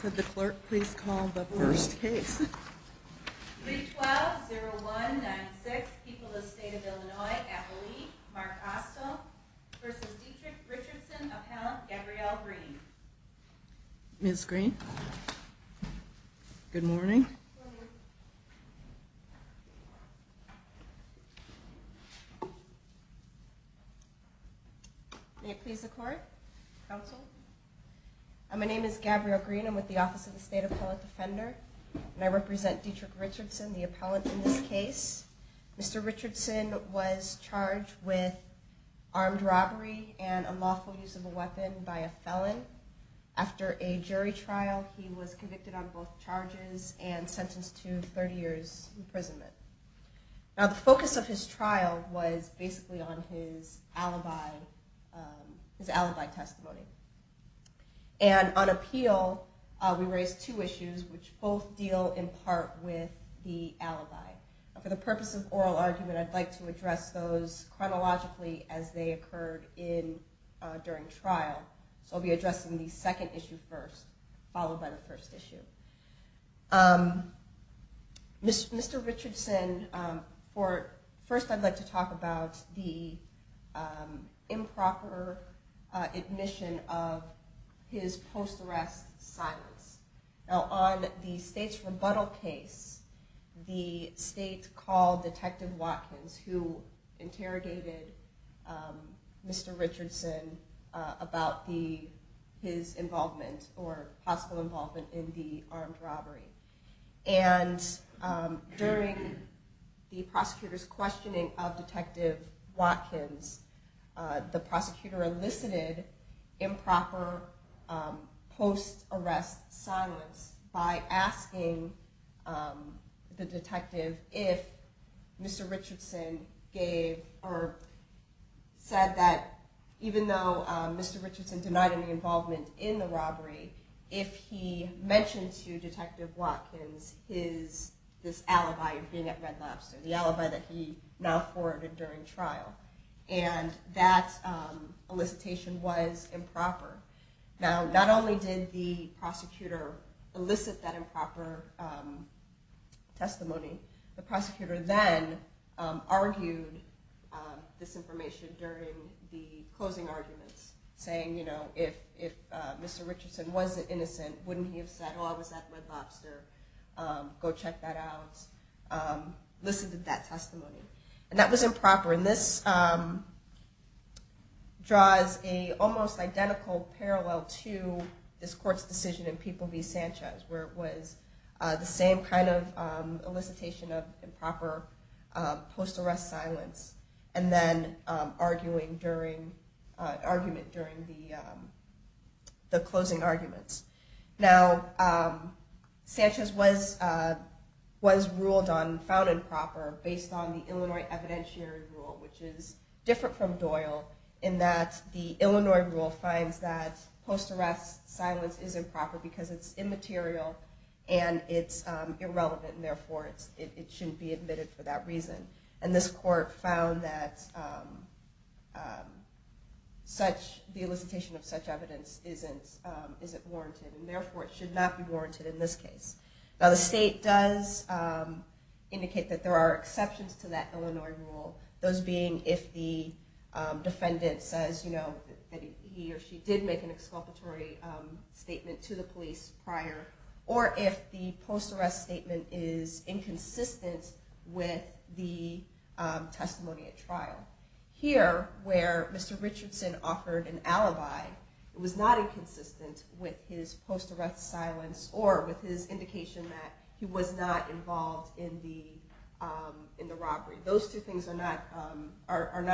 Could the clerk please call the first case? 312-0196, People of the State of Illinois, Appalachia, Mark Austell v. Dietrich Richardson, Appellant Gabrielle Green. Ms. Green. Good morning. May it please the court, counsel. My name is Gabrielle Green. I'm with the Office of the State Appellant Defender. And I represent Dietrich Richardson, the appellant in this case. Mr. Richardson was charged with armed robbery and unlawful use of a weapon by a felon. After a jury trial, he was convicted on both charges and sentenced to 30 years imprisonment. Now, the focus of his trial was basically on his alibi testimony. And on appeal, we raised two issues, which both deal in part with the alibi. For the purpose of oral argument, I'd like to address those chronologically as they occurred during trial. So I'll be addressing the second issue first, followed by the first issue. Mr. Richardson, first I'd like to talk about the improper admission of his post-arrest silence. Now, on the state's rebuttal case, the state called Detective Watkins, who interrogated Mr. Richardson about his involvement or possible involvement in the armed robbery. And during the prosecutor's questioning of Detective Watkins, the prosecutor elicited improper post-arrest silence by asking the detective if Mr. Richardson gave or said that even though Mr. Richardson denied any involvement in the robbery, if he mentioned to Detective Watkins this alibi of being at Red Lobster, the alibi that he now forwarded during trial. And that elicitation was improper. Now, not only did the prosecutor elicit that improper testimony, the prosecutor then argued this information during the closing arguments, saying if Mr. Richardson wasn't at Red Lobster, go check that out. Listen to that testimony. And that was improper. And this draws a almost identical parallel to this court's decision in People v. Sanchez, where it was the same kind of elicitation of improper post-arrest silence, and then arguing during the closing arguments. Now, Sanchez was ruled on found improper based on the Illinois evidentiary rule, which is different from Doyle, in that the Illinois rule finds that post-arrest silence is improper because it's immaterial and it's irrelevant. And therefore, it shouldn't be admitted for that reason. And this court found that the elicitation of such evidence isn't warranted. And therefore, it should not be warranted in this case. Now, the state does indicate that there are exceptions to that Illinois rule, those being if the defendant says that he or she did make an exculpatory statement to the police prior, or if the post-arrest statement is inconsistent with the testimony at trial. Here, where Mr. Richardson offered an alibi, it was not inconsistent with his post-arrest silence or with his indication that he was not involved in the robbery. Those two things are not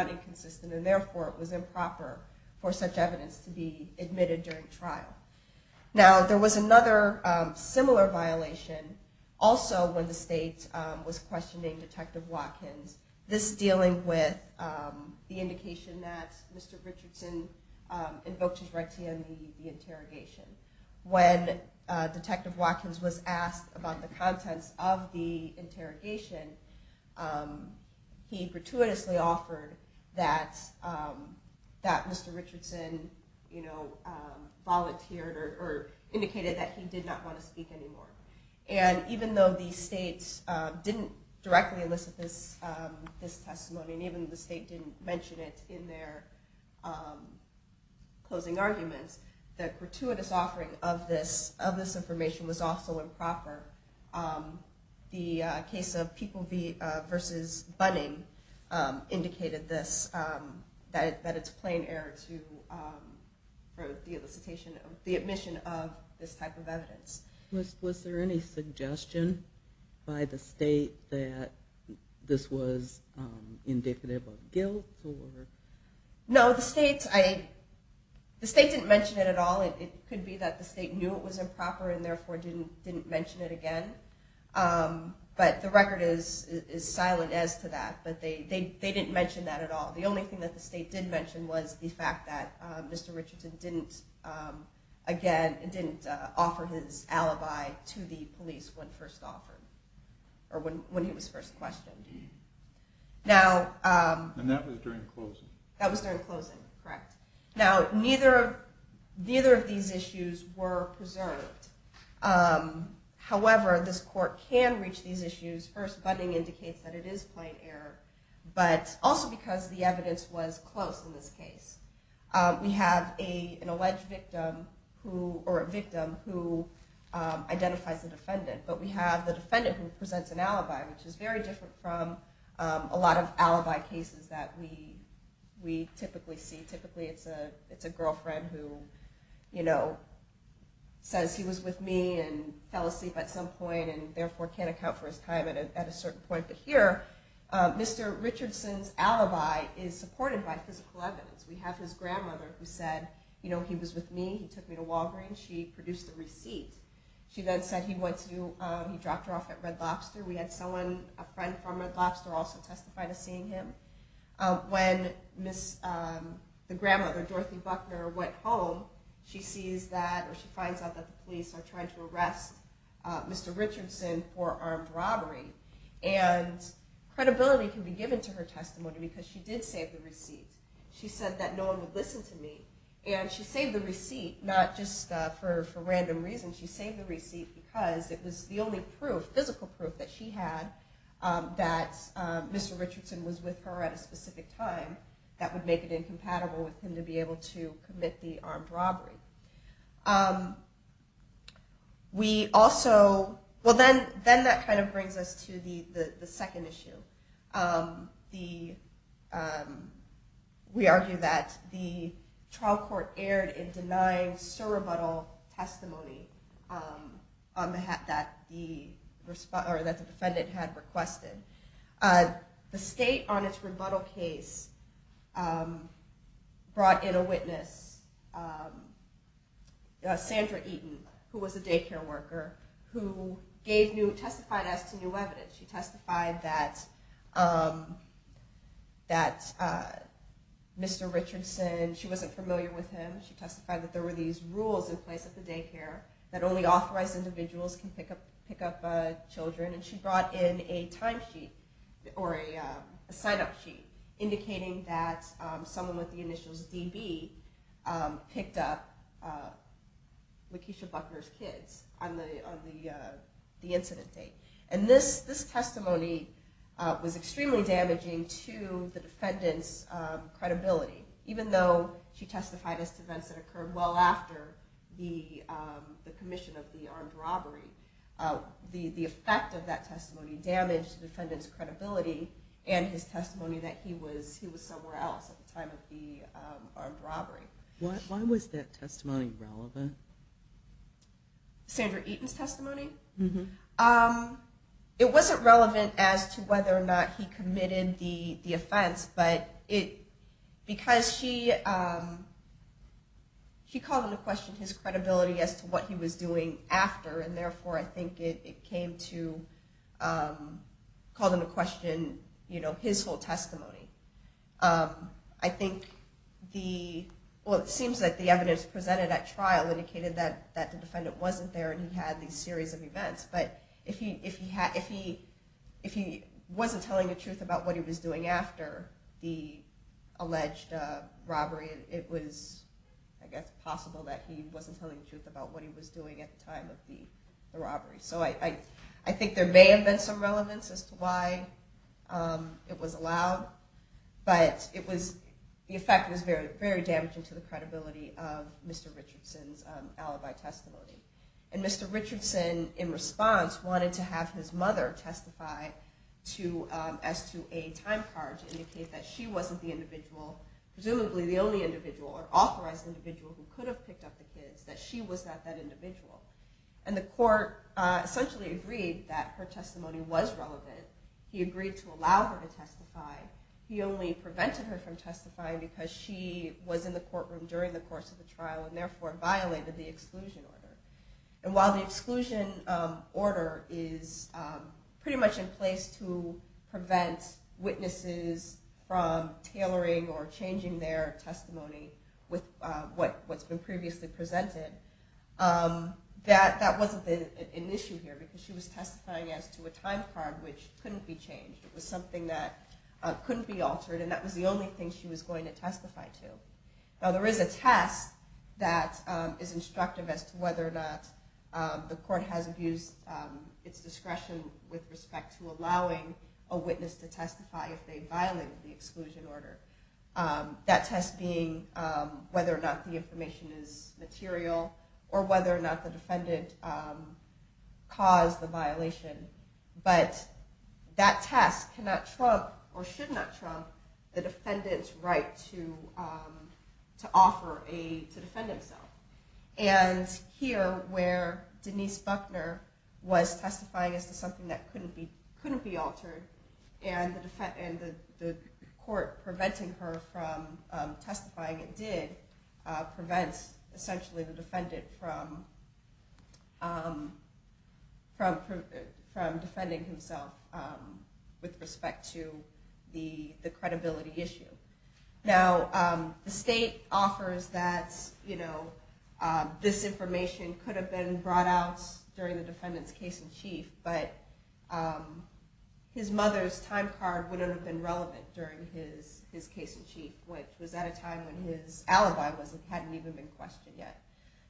inconsistent. And therefore, it was improper for such evidence to be admitted during trial. Now, there was another similar violation, also when the state was questioning Detective Watkins. This dealing with the indication that Mr. Richardson invoked his right to be on the interrogation. When Detective Watkins was asked about the contents of the interrogation, he gratuitously offered that Mr. Richardson volunteered or indicated that he did not want to speak anymore. And even though the states didn't directly elicit this testimony, and even the state didn't mention it in their closing arguments, the gratuitous offering of this information was also improper. The case of People v. Bunning indicated this, that it's plain error for the elicitation of the admission of this type of evidence. Was there any suggestion by the state that this was indicative of guilt? No, the state didn't mention it at all. It could be that the state knew it was improper, and therefore didn't mention it again. But the record is silent as to that. But they didn't mention that at all. The only thing that the state did mention was the fact that Mr. Richardson didn't offer his alibi to the police when first offered, or when he was first questioned. And that was during closing. That was during closing, correct. Now, neither of these issues were preserved. However, this court can reach these issues. First, Bunning indicates that it is plain error, but also because the evidence was close in this case. We have an alleged victim who identifies the defendant, but we have the defendant who presents an alibi, which is very different from a lot of alibi cases that we typically see. Typically, it's a girlfriend who says he was with me and fell asleep at some point, and therefore can't account for his time at a certain point. But here, Mr. Richardson's alibi is supported by physical evidence. We have his grandmother who said, he was with me. He took me to Walgreens. She produced a receipt. She then said he dropped her off at Red Lobster. We had someone, a friend from Red Lobster, also testify to seeing him. When the grandmother, Dorothy Buckner, went home, she sees that, or she finds out that the police are trying to arrest Mr. Richardson for armed robbery. And credibility can be given to her testimony, because she did save the receipt. She said that no one would listen to me. And she saved the receipt, not just for random reasons. She saved the receipt because it was the only proof, physical proof, that she had that Mr. Richardson was with her at a specific time that would make it incompatible with him to be able to commit the armed robbery. We also, well, then that kind of brings us to the second issue. We argue that the trial court erred in denying surrebuttal testimony that the defendant had requested. The state, on its rebuttal case, brought in a witness, Sandra Eaton, who was a daycare worker, who gave new, testified as to new evidence. She testified that Mr. Richardson, she wasn't familiar with him. She testified that there were these rules in place at the daycare that only authorized individuals can pick up children. And she brought in a time sheet, or a sign-up sheet, indicating that someone with the initials DB picked up Lakeisha Buckner's kids on the incident date. And this testimony was extremely damaging to the defendant's credibility, even though she testified as to events that occurred well after the commission of the armed robbery. The effect of that testimony damaged the defendant's credibility and his testimony that he was somewhere else at the time of the armed robbery. Why was that testimony relevant? Sandra Eaton's testimony? It wasn't relevant as to whether or not he committed the offense. But because she called into question his credibility as to what he was doing after, and therefore, I think it came to call into question his whole testimony. I think the, well, it seems like the evidence presented at trial indicated that the defendant wasn't there and he had these series of events. But if he wasn't telling the truth about what he was doing after the alleged robbery, it was, I guess, possible that he wasn't telling the truth about what he was doing at the time of the robbery. So I think there may have been some relevance as to why it was allowed. But the effect was very, very damaging to the credibility of Mr. Richardson's alibi testimony. And Mr. Richardson, in response, wanted to have his mother testify as to a time card to indicate that she wasn't the individual, presumably the only individual or authorized individual who could have picked up the kids, that she was not that individual. And the court essentially agreed that her testimony was relevant. He agreed to allow her to testify. He only prevented her from testifying because she was in the courtroom during the course of the trial and therefore violated the exclusion order. And while the exclusion order is pretty much in place to prevent witnesses from tailoring or changing their testimony with what's been previously presented, that wasn't an issue here because she was testifying as to a time card which couldn't be changed. It was something that couldn't be altered. And that was the only thing she was going to testify to. Now, there is a test that is instructive as to whether or not the court has abused its discretion with respect to allowing a witness to testify if they violated the exclusion order, that test being whether or not the information is material or whether or not the defendant caused the violation. But that test cannot trump or should not trump the defendant's right to offer aid to defend himself. And here, where Denise Buckner was testifying as to something that couldn't be altered, and the court preventing her from testifying it did, prevents essentially the defendant from defending himself with respect to the credibility issue. Now, the state offers that this information could have been brought out during the defendant's case in chief, but his mother's time card wouldn't have been relevant during his case in chief, which was at a time when his alibi hadn't even been questioned yet.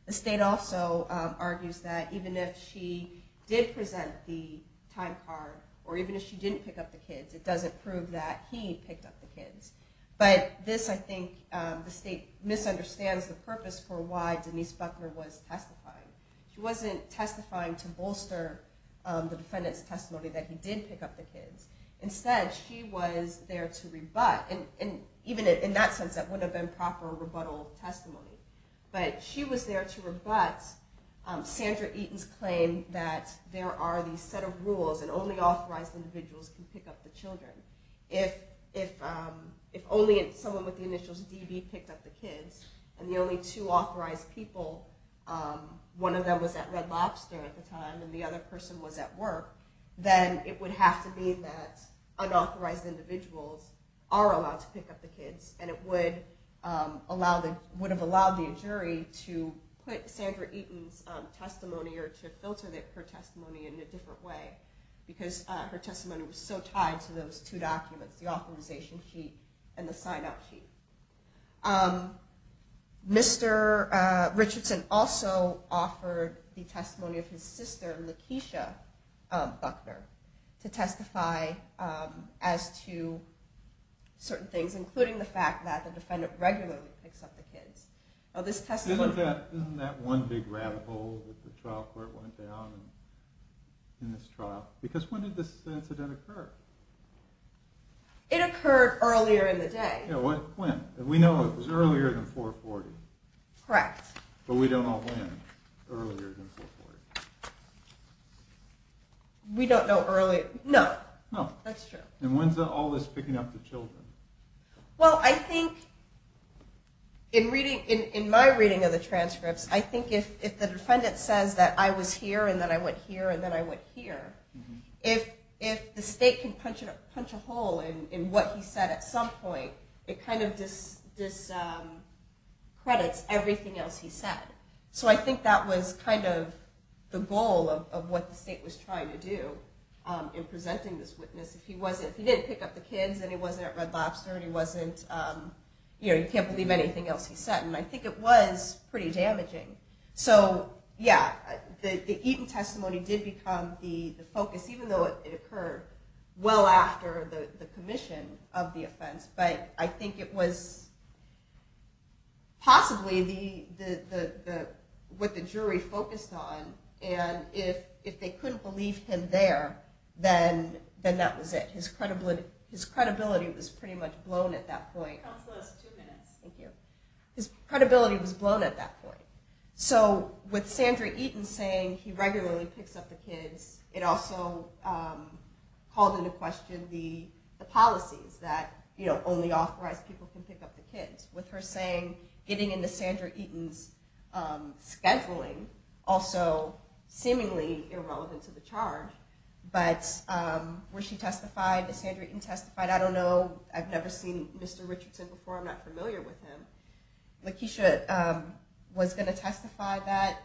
The state also argues that even if she did present the time card, or even if she didn't pick up the kids, it doesn't prove that he picked up the kids. But this, I think, the state misunderstands the purpose for why Denise Buckner was testifying. She wasn't testifying to bolster the defendant's testimony that he did pick up the kids. Instead, she was there to rebut. And even in that sense, that wouldn't have been proper rebuttal testimony. But she was there to rebut Sandra Eaton's claim that there are these set of rules, and only authorized individuals can pick up the children. If only someone with the initials DB picked up the kids, and the only two authorized people, one of them was at Red Lobster at the time, and the other person was at work, then it would have to be that unauthorized individuals are allowed to pick up the kids. And it would have allowed the jury to put Sandra Eaton's testimony, or to filter her testimony in a different way, because her testimony was so tied to those two documents, the authorization sheet and the sign-out sheet. Mr. Richardson also offered the testimony of his sister, Lakeisha Buckner, to testify as to certain things, including the fact that the defendant regularly picks up the kids. This testimony. Isn't that one big rabbit hole that the trial court went down in this trial? Because when did this incident occur? It occurred earlier in the day. When? We know it was earlier than 440. Correct. But we don't know when, earlier than 440. We don't know earlier. No. No. That's true. And when's all this picking up the children? Well, I think in my reading of the transcripts, I think if the defendant says that I was here, and that I went here, and that I went here, if the state can punch a hole in what he said at some point, it kind of discredits everything else he said. So I think that was kind of the goal of what the state was trying to do in presenting this witness. If he didn't pick up the kids, and he wasn't at Red Lobster, and he wasn't, you can't believe anything else he said. And I think it was pretty damaging. So yeah, the Eaton testimony did become the focus, even though it occurred well after the commission of the offense. But I think it was possibly what the jury focused on. And if they couldn't believe him there, then that was it. His credibility was pretty much blown at that point. Counsel, that's two minutes. Thank you. His credibility was blown at that point. So with Sandra Eaton saying he regularly picks up the kids, it also called into question the policies that only authorized people can pick up the kids. With her saying, getting into Sandra Eaton's scheduling, also seemingly irrelevant to the charge. But where she testified, if Sandra Eaton testified, I don't know. I've never seen Mr. Richardson before. I'm not familiar with him. Lakeisha was going to testify that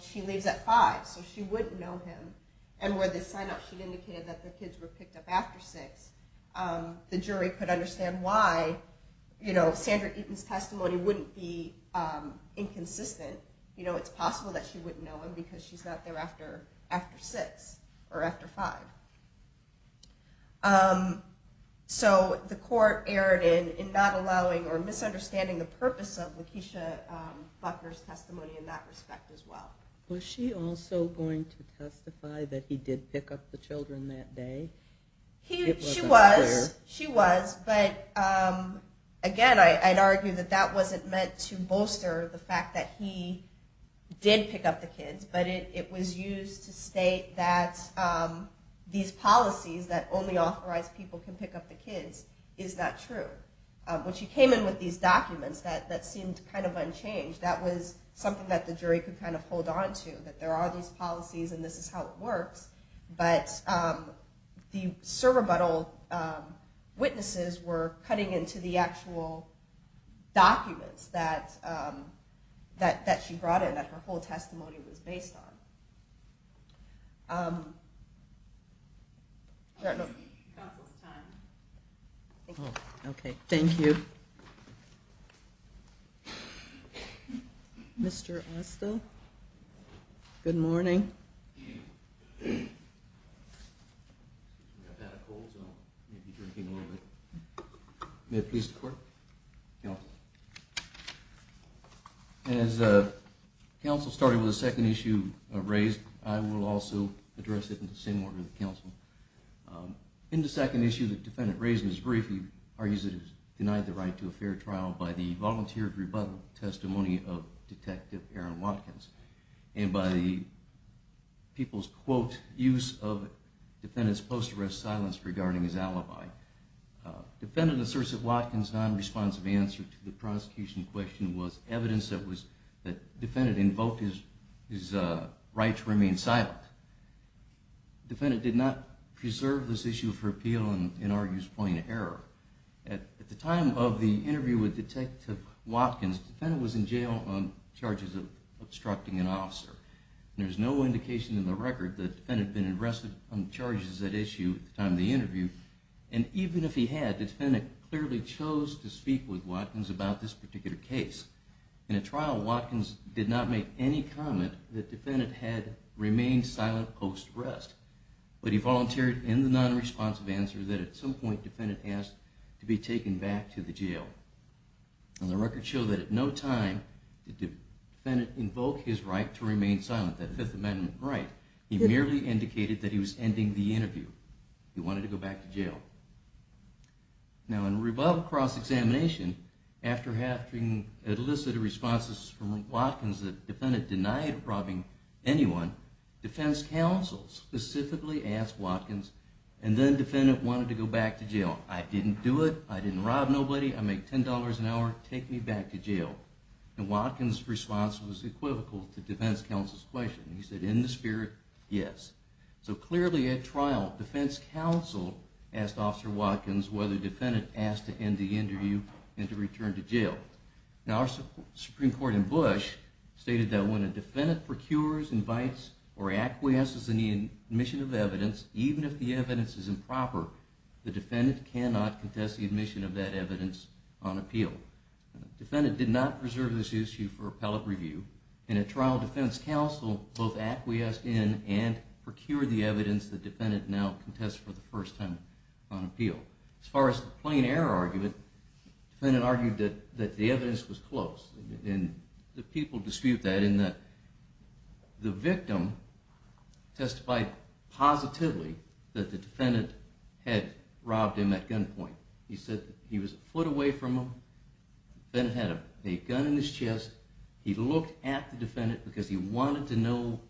she leaves at 5, so she wouldn't know him. And where the sign-up sheet indicated that the kids were picked up after 6, the jury could understand why Sandra Eaton's testimony wouldn't be inconsistent. It's possible that she wouldn't know him, because she's not there after 6 or after 5. So the court erred in not allowing or misunderstanding the purpose of Lakeisha Buckner's testimony in that respect as well. Was she also going to testify that he did pick up the children that day? She was. She was. But again, I'd argue that that wasn't meant to bolster the fact that he did pick up the kids. But it was used to state that these policies that only authorize people can pick up the kids is not true. When she came in with these documents, that seemed kind of unchanged. That was something that the jury could kind of hold on to, that there are these policies and this is how it works. But the Cerro Butto witnesses were cutting into the actual documents that she brought in, that her whole testimony was based on. OK, thank you. Mr. Asta? Good morning. May it please the court? Counsel. As counsel started with the second issue raised, I will also address it in the same order that counsel. In the second issue, the defendant raised in his brief, he argues that he's denied the right to a fair trial by the volunteered rebuttal testimony of Detective Aaron Watkins and by the people's, quote, use of defendant's post-arrest silence regarding his alibi. Defendant asserts that Watkins' non-responsive answer to the prosecution question was evidence that defendant invoked his right to remain silent. Defendant did not preserve this issue for appeal and argues plain error. At the time of the interview with Detective Watkins, defendant was in jail on charges of obstructing an officer. There's no indication in the record that defendant had been arrested on charges at issue at the time of the interview. And even if he had, defendant clearly chose to speak with Watkins about this particular case. In a trial, Watkins did not make any comment that defendant had remained silent post-arrest. But he volunteered in the non-responsive answer that at some point, defendant asked to be taken back to the jail. And the records show that at no time did defendant invoke his right to remain silent, that Fifth Amendment right. He merely indicated that he was ending the interview. He wanted to go back to jail. Now, in rebuttal cross-examination, after having elicited responses from Watkins that defendant denied robbing anyone, defense counsel specifically asked Watkins, and then defendant wanted to go back to jail. I didn't do it. I didn't rob nobody. I make $10 an hour. Take me back to jail. And Watkins' response was equivocal to defense counsel's question. He said, in the spirit, yes. So clearly, at trial, defense counsel asked Officer Watkins whether defendant asked to end the interview and to return to jail. Now, our Supreme Court in Bush stated that when a defendant procures, invites, or acquiesces in the admission of evidence, even if the evidence is improper, the defendant cannot contest the admission of that evidence on appeal. Defendant did not preserve this issue for appellate review. In a trial, defense counsel both acquiesced in and procured the evidence the defendant now contests for the first time on appeal. As far as the plain error argument, defendant argued that the evidence was close. And the people dispute that in that the victim testified positively that the defendant had robbed him at gunpoint. He said he was a foot away from him. Defendant had a gun in his chest. He looked at the defendant because he wanted to know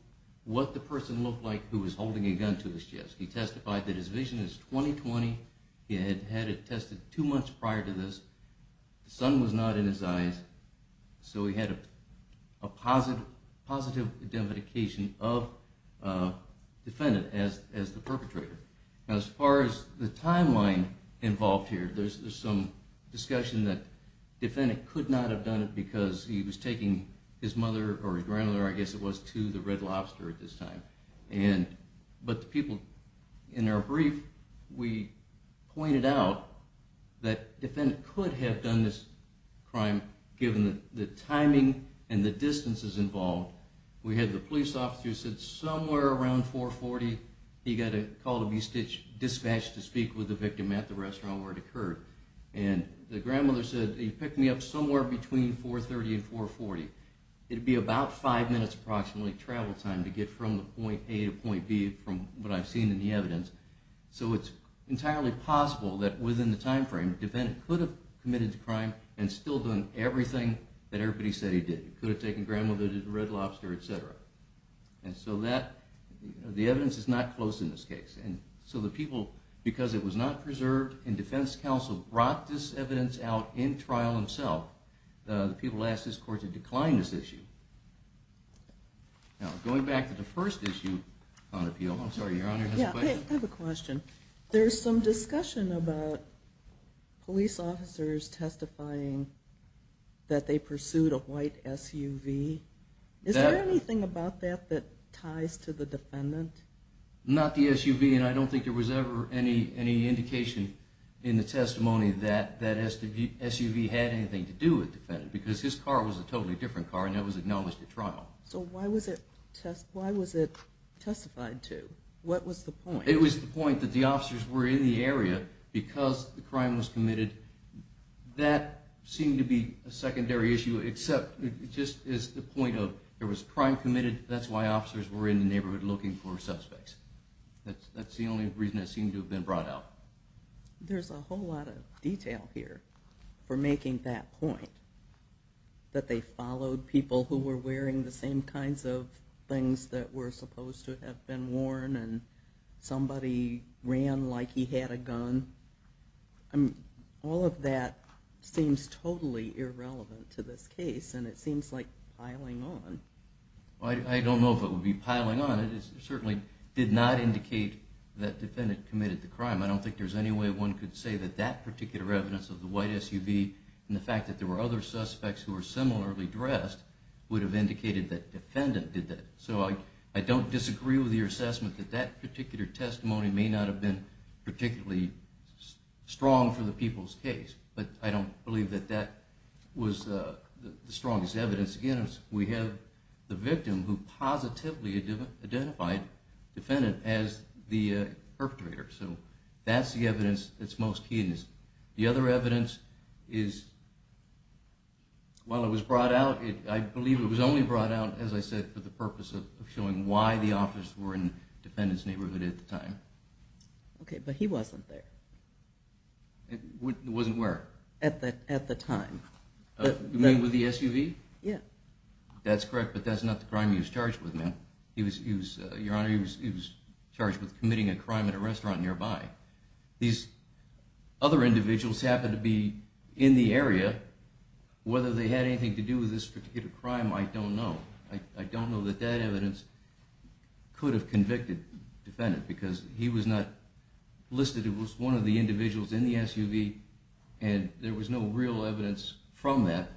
what the person looked like who was holding a gun to his chest. He testified that his vision is 20-20. He had had it tested two months prior to this. The sun was not in his eyes. So he had a positive identification of defendant as the perpetrator. Now, as far as the timeline involved here, there's some discussion that defendant could not have done it because he was taking his mother or his grandmother, I guess it was, to the Red Lobster at this time. But the people in our brief, we pointed out that defendant could have done this crime given the timing and the distances involved. We had the police officer who said somewhere around 440, he got a call to be dispatched to speak with the victim at the restaurant where it occurred. And the grandmother said, he picked me up somewhere between 430 and 440. It would be about five minutes, approximately, travel time to get from point A to point B from what I've seen in the evidence. So it's entirely possible that within the time frame, the defendant could have committed the crime and still done everything that everybody said he did. He could have taken grandmother to the Red Lobster, et cetera. And so the evidence is not close in this case. And so the people, because it was not preserved, and defense counsel brought this evidence out in trial himself, the people asked this court to decline this issue. Now, going back to the first issue on appeal, I'm sorry, Your Honor, I have a question. There's some discussion about police officers testifying that they pursued a white SUV. Is there anything about that that ties to the defendant? Not the SUV. And I don't think there was ever any indication in the testimony that that SUV had anything to do with the defendant, because his car was a totally different car, and that was acknowledged at trial. So why was it testified to? What was the point? It was the point that the officers were in the area because the crime was committed. That seemed to be a secondary issue, except it just is the point of there was crime committed. That's why officers were in the neighborhood looking for suspects. That's the only reason it seemed to have been brought out. There's a whole lot of detail here for making that point, that they followed people who were wearing the same kinds of things that were supposed to have been worn, and somebody ran like he had a gun. All of that seems totally irrelevant to this case, and it seems like piling on. I don't know if it would be piling on. It certainly did not indicate that defendant committed the crime. I don't think there's any way one could say that that particular evidence of the white SUV and the fact that there were other suspects who were similarly dressed would have indicated that defendant did that. So I don't disagree with your assessment that that particular testimony may not have been particularly strong for the people's case, but I don't believe that that was the strongest evidence. Again, we have the victim who positively identified defendant as the perpetrator. So that's the evidence that's most key. The other evidence is, while it was brought out, I believe it was only brought out, as I said, for the purpose of showing why the officers were in the defendant's neighborhood at the time. OK, but he wasn't there. Wasn't where? At the time. You mean with the SUV? Yeah. That's correct, but that's not the crime he was charged with, ma'am. Your Honor, he was charged with committing a crime at a restaurant nearby. These other individuals happen to be in the area. Whether they had anything to do with this particular crime, I don't know. I don't know that that evidence could have convicted defendant, because he was not listed. It was one of the individuals in the SUV, and there was no real evidence from that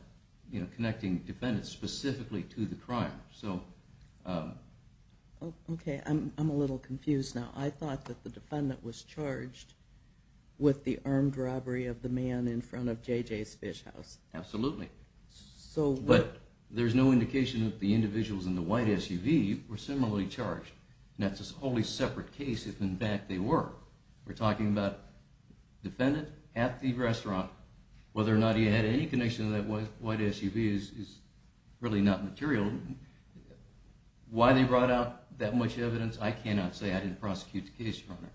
connecting defendant specifically to the crime. So. OK, I'm a little confused now. I thought that the defendant was charged with the armed robbery of the man in front of JJ's Fish House. Absolutely. But there's no indication that the individuals in the white SUV were similarly charged, and that's a wholly separate case if, in fact, they were. We're talking about defendant at the restaurant. Whether or not he had any connection to that white SUV is really not material. Why they brought out that much evidence, I cannot say. I didn't prosecute the case, Your Honor.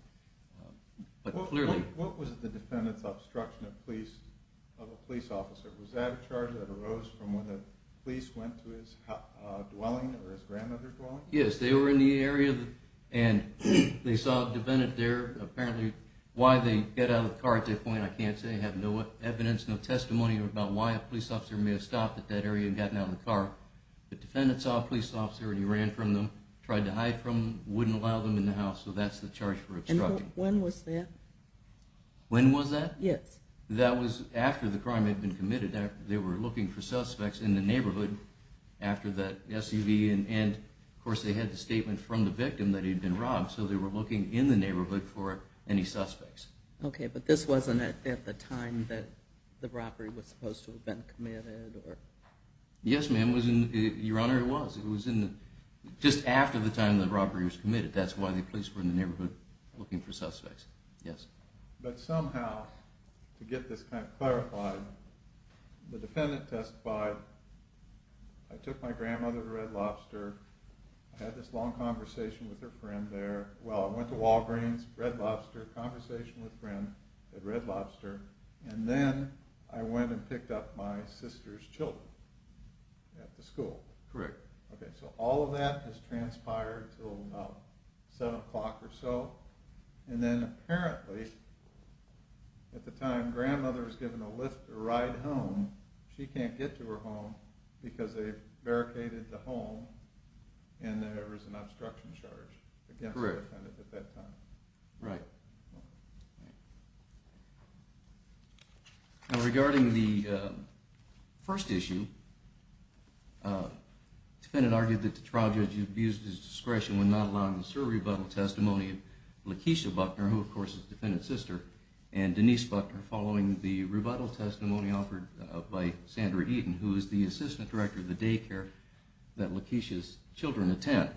But clearly. What was the defendant's obstruction of a police officer? Was that a charge that arose from when the police went to his dwelling or his grandmother's dwelling? Yes, they were in the area, and they saw a defendant there. Apparently, why they get out of the car at that point, I can't say. I have no evidence, no testimony about why a police officer may have stopped at that area and gotten out of the car. The defendant saw a police officer, and he ran from them, tried to hide from them. Wouldn't allow them in the house, so that's the charge for obstruction. When was that? When was that? Yes. That was after the crime had been committed. They were looking for suspects in the neighborhood after that SUV, and of course, they had the statement from the victim that he'd been robbed. So they were looking in the neighborhood for any suspects. OK, but this wasn't at the time that the robbery was supposed to have been committed? Yes, ma'am. Your Honor, it was. Just after the time the robbery was committed, that's why the police were in the neighborhood looking for suspects. Yes. But somehow, to get this kind of clarified, the defendant testified, I took my grandmother to Red Lobster, had this long conversation with her friend there. Well, I went to Walgreens, Red Lobster, conversation with a friend at Red Lobster, and then I went and picked up my sister's children at the school. Correct. So all of that has transpired until about 7 o'clock or so. And then apparently, at the time, grandmother was given a lift to ride home. She can't get to her home because they barricaded the home, and there was an obstruction charge against the defendant at that time. Right. Right. Now, regarding the first issue, the defendant argued that the trial judge abused his discretion when not allowing the sur rebuttal testimony of Lakeisha Buckner, who, of course, is the defendant's sister, and Denise Buckner following the rebuttal testimony offered by Sandra Eaton, who is the assistant director of the daycare that Lakeisha's children attend.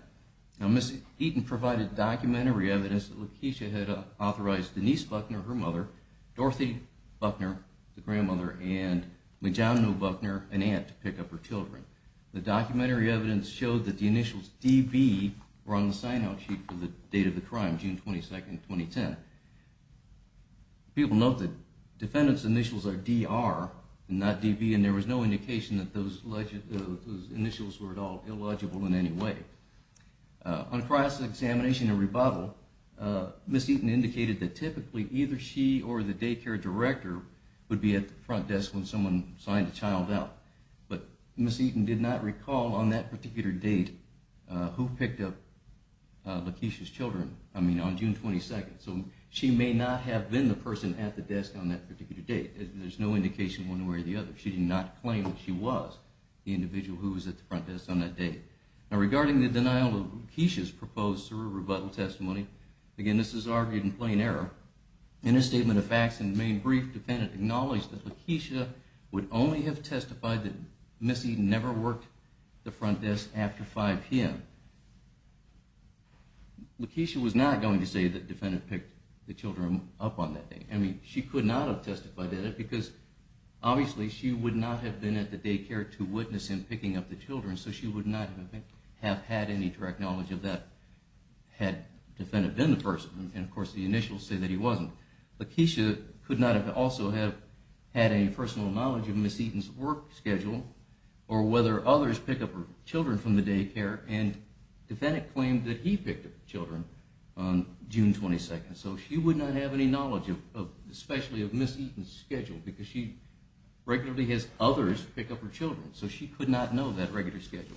Now, Ms. Eaton provided documentary evidence that Lakeisha had authorized Denise Buckner, her mother, Dorothy Buckner, the grandmother, and Majano Buckner, an aunt, to pick up her children. The documentary evidence showed that the initials D.B. were on the sign-out sheet for the date of the crime, June 22, 2010. People note that defendant's initials are D.R. and not D.B., and there was no indication that those initials were at all illegible in any way. On cross-examination and rebuttal, Ms. Eaton indicated that typically either she or the daycare director would be at the front desk when someone signed a child out. But Ms. Eaton did not recall on that particular date who picked up Lakeisha's children, I mean, on June 22. So she may not have been the person at the desk on that particular date. There's no indication one way or the other. She did not claim that she was the individual who was at the front desk on that date. Now, regarding the denial of Lakeisha's proposed cerebral rebuttal testimony, again, this is argued in plain error. In a statement of facts, in the main brief, defendant acknowledged that Lakeisha would only have testified that Ms. Eaton never worked the front desk after 5 p.m. Lakeisha was not going to say that defendant picked the children up on that day. I mean, she could not have testified at it, because obviously, she would not have been at the daycare to witness him picking up the children, so she would not have had any direct knowledge of that had defendant been the person. And of course, the initials say that he wasn't. Lakeisha could not have also had any personal knowledge of Ms. Eaton's work schedule, or whether others pick up her children from the daycare. And defendant claimed that he picked up the children on June 22. So she would not have any knowledge, especially of Ms. Eaton's schedule, because she regularly has others pick up her children. So she could not know that regular schedule.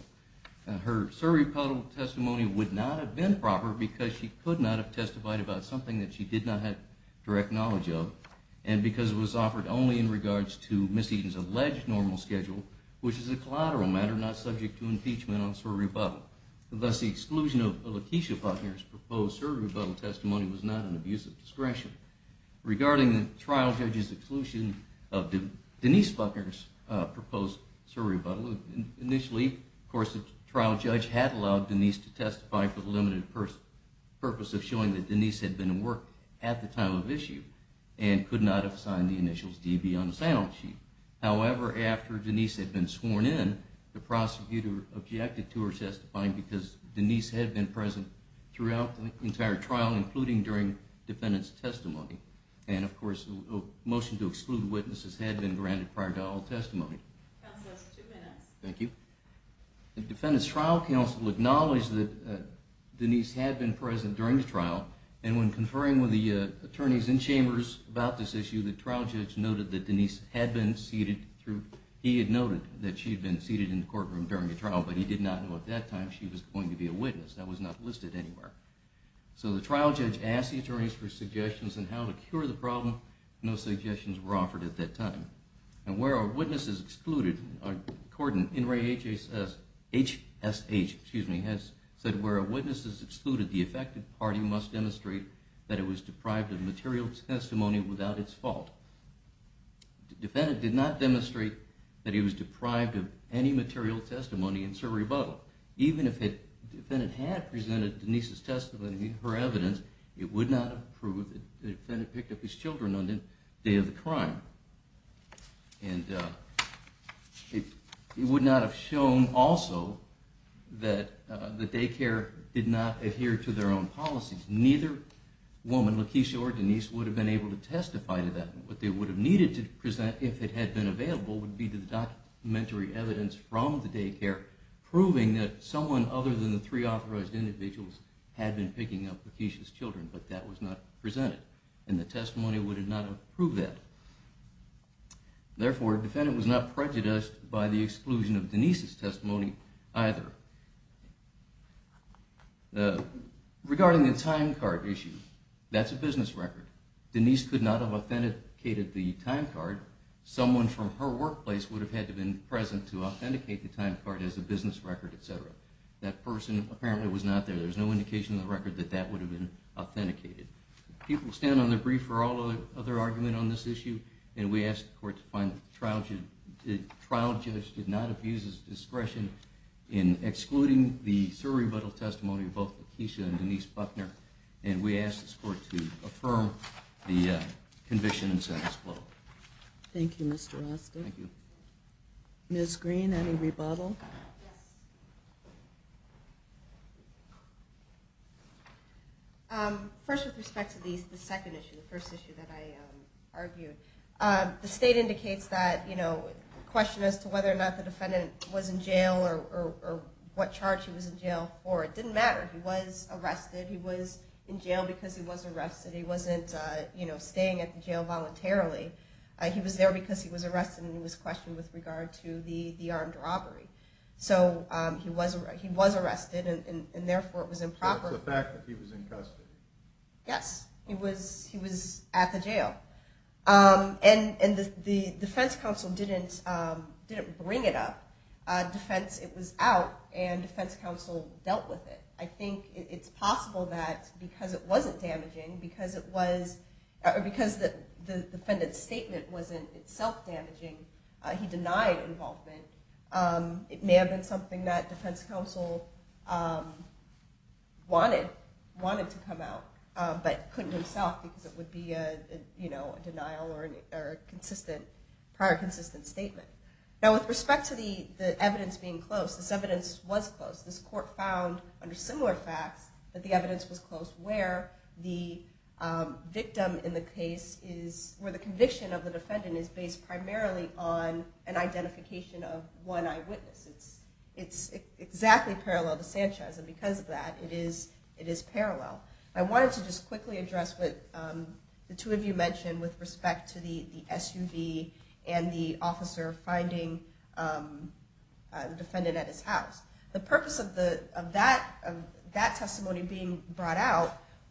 Her Sir Rebuttal testimony would not have been proper, because she could not have testified about something that she did not have direct knowledge of, and because it was offered only in regards to Ms. Eaton's alleged normal schedule, which is a collateral matter, not subject to impeachment on Sir Rebuttal. Thus, the exclusion of Lakeisha Buckner's proposed Sir Rebuttal testimony was not an abuse of discretion. Regarding the trial judge's exclusion of Denise Buckner's proposed Sir Rebuttal, initially, of course, the trial judge had allowed Denise to testify for the limited purpose of showing that Denise had been at work at the time of issue and could not have signed the initials DB on the standoff sheet. However, after Denise had been sworn in, the prosecutor objected to her testifying, because Denise had been present throughout the entire trial, including during defendant's testimony. And of course, a motion to exclude witnesses had been granted prior to all testimony. Counsel, that's two minutes. Thank you. The defendant's trial counsel acknowledged that Denise had been present during the trial, and when conferring with the attorneys in chambers about this issue, the trial judge noted that Denise had been seated through, he had noted that she had been seated in the courtroom during the trial, but he did not know at that time she was going to be a witness. That was not listed anywhere. So the trial judge asked the attorneys for suggestions on how to cure the problem. No suggestions were offered at that time. And where are witnesses excluded? Cordon, NRAHSH, excuse me, has said where are witnesses excluded? The affected party must demonstrate that it was deprived of material testimony without its fault. Defendant did not demonstrate that he was deprived of any material testimony in Sir Rebuttal. Even if the defendant had presented Denise's testimony and her evidence, it would not have the defendant picked up his children on the day of the crime. And it would not have shown, also, that the daycare did not adhere to their own policies. Neither woman, Lakeisha or Denise, would have been able to testify to that. What they would have needed to present, if it had been available, would be the documentary evidence from the daycare proving that someone other than the three authorized individuals had been picking up Lakeisha's children, but that was not presented. And the testimony would have not have proved that. Therefore, defendant was not prejudiced by the exclusion of Denise's testimony either. Regarding the time card issue, that's a business record. Denise could not have authenticated the time card. Someone from her workplace would have had to have been present to authenticate the time card as a business record, et cetera. That person apparently was not there. There's no indication in the record that that would have been authenticated. People stand on their brief for all other argument on this issue. And we ask the court to find that the trial judge did not have used his discretion in excluding the thorough rebuttal testimony of both Lakeisha and Denise Buckner. And we ask this court to affirm the conviction and sentence flow. Thank you, Mr. Rostick. Ms. Green, any rebuttal? First, with respect to the second issue, the first issue that I argued, the state indicates that the question as to whether or not the defendant was in jail or what charge he was in jail for, it didn't matter. He was arrested. He was in jail because he was arrested. He wasn't staying at the jail voluntarily. He was there because he was arrested and he was questioned with regard to the armed robbery. So he was arrested, and therefore, it was improper. It's the fact that he was in custody. Yes, he was at the jail. And the defense counsel didn't bring it up. Defense, it was out, and defense counsel dealt with it. I think it's possible that because it wasn't damaging, because it was, or because the defendant's statement wasn't itself damaging, he denied involvement. It may have been something that defense counsel wanted to come out, but couldn't himself, because it would be a denial or a prior consistent statement. Now, with respect to the evidence being close, this evidence was close. This court found, under similar facts, that the evidence was close where the victim in the case is, where the conviction of the defendant is based primarily on an identification of one eyewitness. It's exactly parallel to Sanchez. And because of that, it is parallel. I wanted to just quickly address what the two of you mentioned with respect to the SUV and the officer finding the defendant at his house.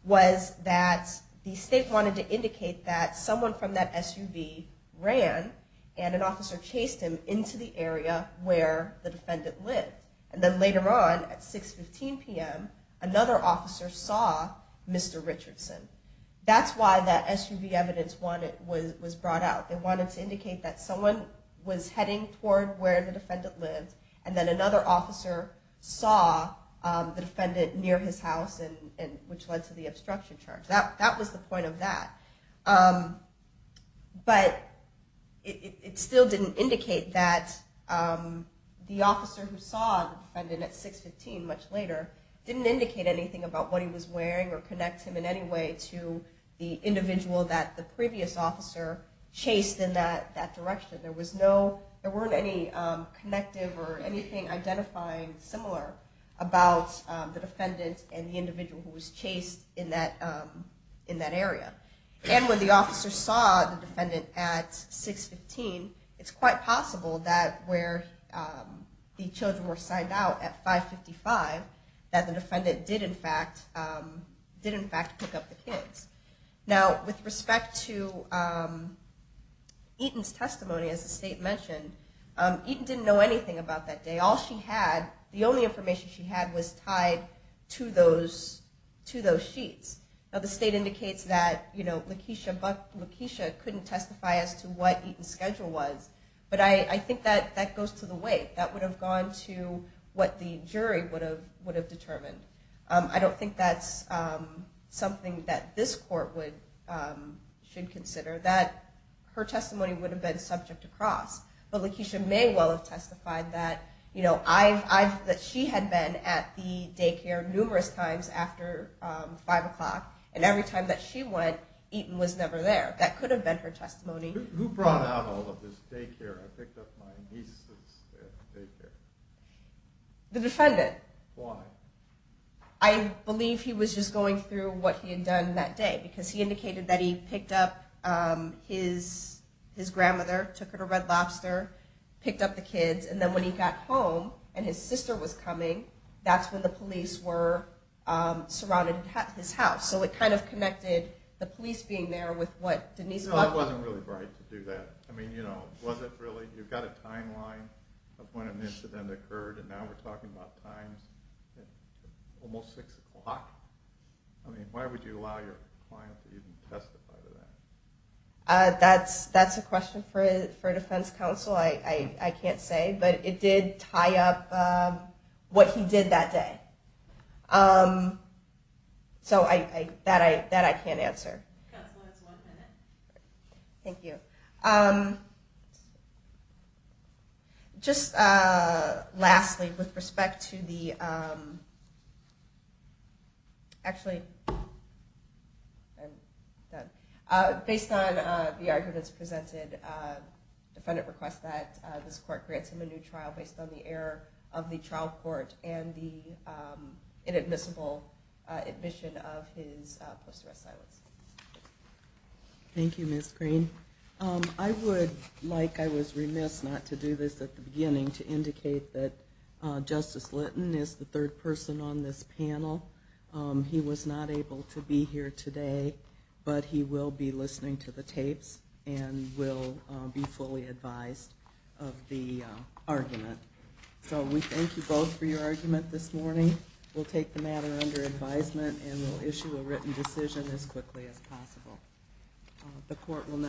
was that the state wanted to indicate that someone from that SUV ran, and an officer chased him into the area where the defendant lived. And then later on, at 6.15 PM, another officer saw Mr. Richardson. That's why that SUV evidence was brought out. They wanted to indicate that someone was heading toward where the defendant lived, and then another officer saw the defendant near his house, which led to the obstruction charge. That was the point of that. But it still didn't indicate that the officer who saw the defendant at 6.15 much later didn't indicate anything about what he was wearing or connect him in any way to the individual that the previous officer chased in that direction. identifying similar about the defendant and the individual who was chased in that area. And when the officer saw the defendant at 6.15, it's quite possible that where the children were signed out at 5.55, that the defendant did, in fact, pick up the kids. Now, with respect to Eaton's testimony, as the state mentioned, Eaton didn't know anything about that day. The only information she had was tied to those sheets. Now, the state indicates that Lakeisha couldn't testify as to what Eaton's schedule was, but I think that that goes to the weight. That would have gone to what the jury would have determined. I don't think that's something that this court should consider, that her testimony would have been subject to cross. But Lakeisha may well have testified that she had been at the daycare numerous times after 5 o'clock, and every time that she went, Eaton was never there. That could have been her testimony. Who brought out all of this daycare? I picked up my niece's daycare. The defendant. Why? I believe he was just going through what he had done that day, because he indicated that he picked up his grandmother, took her to Red Lobster, picked up the kids. And then when he got home, and his sister was coming, that's when the police were surrounding his house. So it kind of connected the police being there with what Denise was doing. It wasn't really right to do that. I mean, was it really? You've got a timeline of when an incident occurred, and now we're talking about times at almost 6 o'clock. I mean, why would you allow your client to even testify to that? That's a question for defense counsel. I can't say. But it did tie up what he did that day. So that I can't answer. Counsel, that's one minute. Thank you. OK. Just lastly, with respect to the, actually, based on the arguments presented, defendant requests that this court grant him a new trial based on the error of the trial court and the inadmissible admission of his post-arrest silence. Thank you, Ms. Green. I would like, I was remiss not to do this at the beginning, to indicate that Justice Litton is the third person on this panel. He was not able to be here today, but he will be listening to the tapes and will be fully advised of the argument. So we thank you both for your argument this morning. We'll take the matter under advisement, and we'll issue a written decision as quickly as possible. The court will now.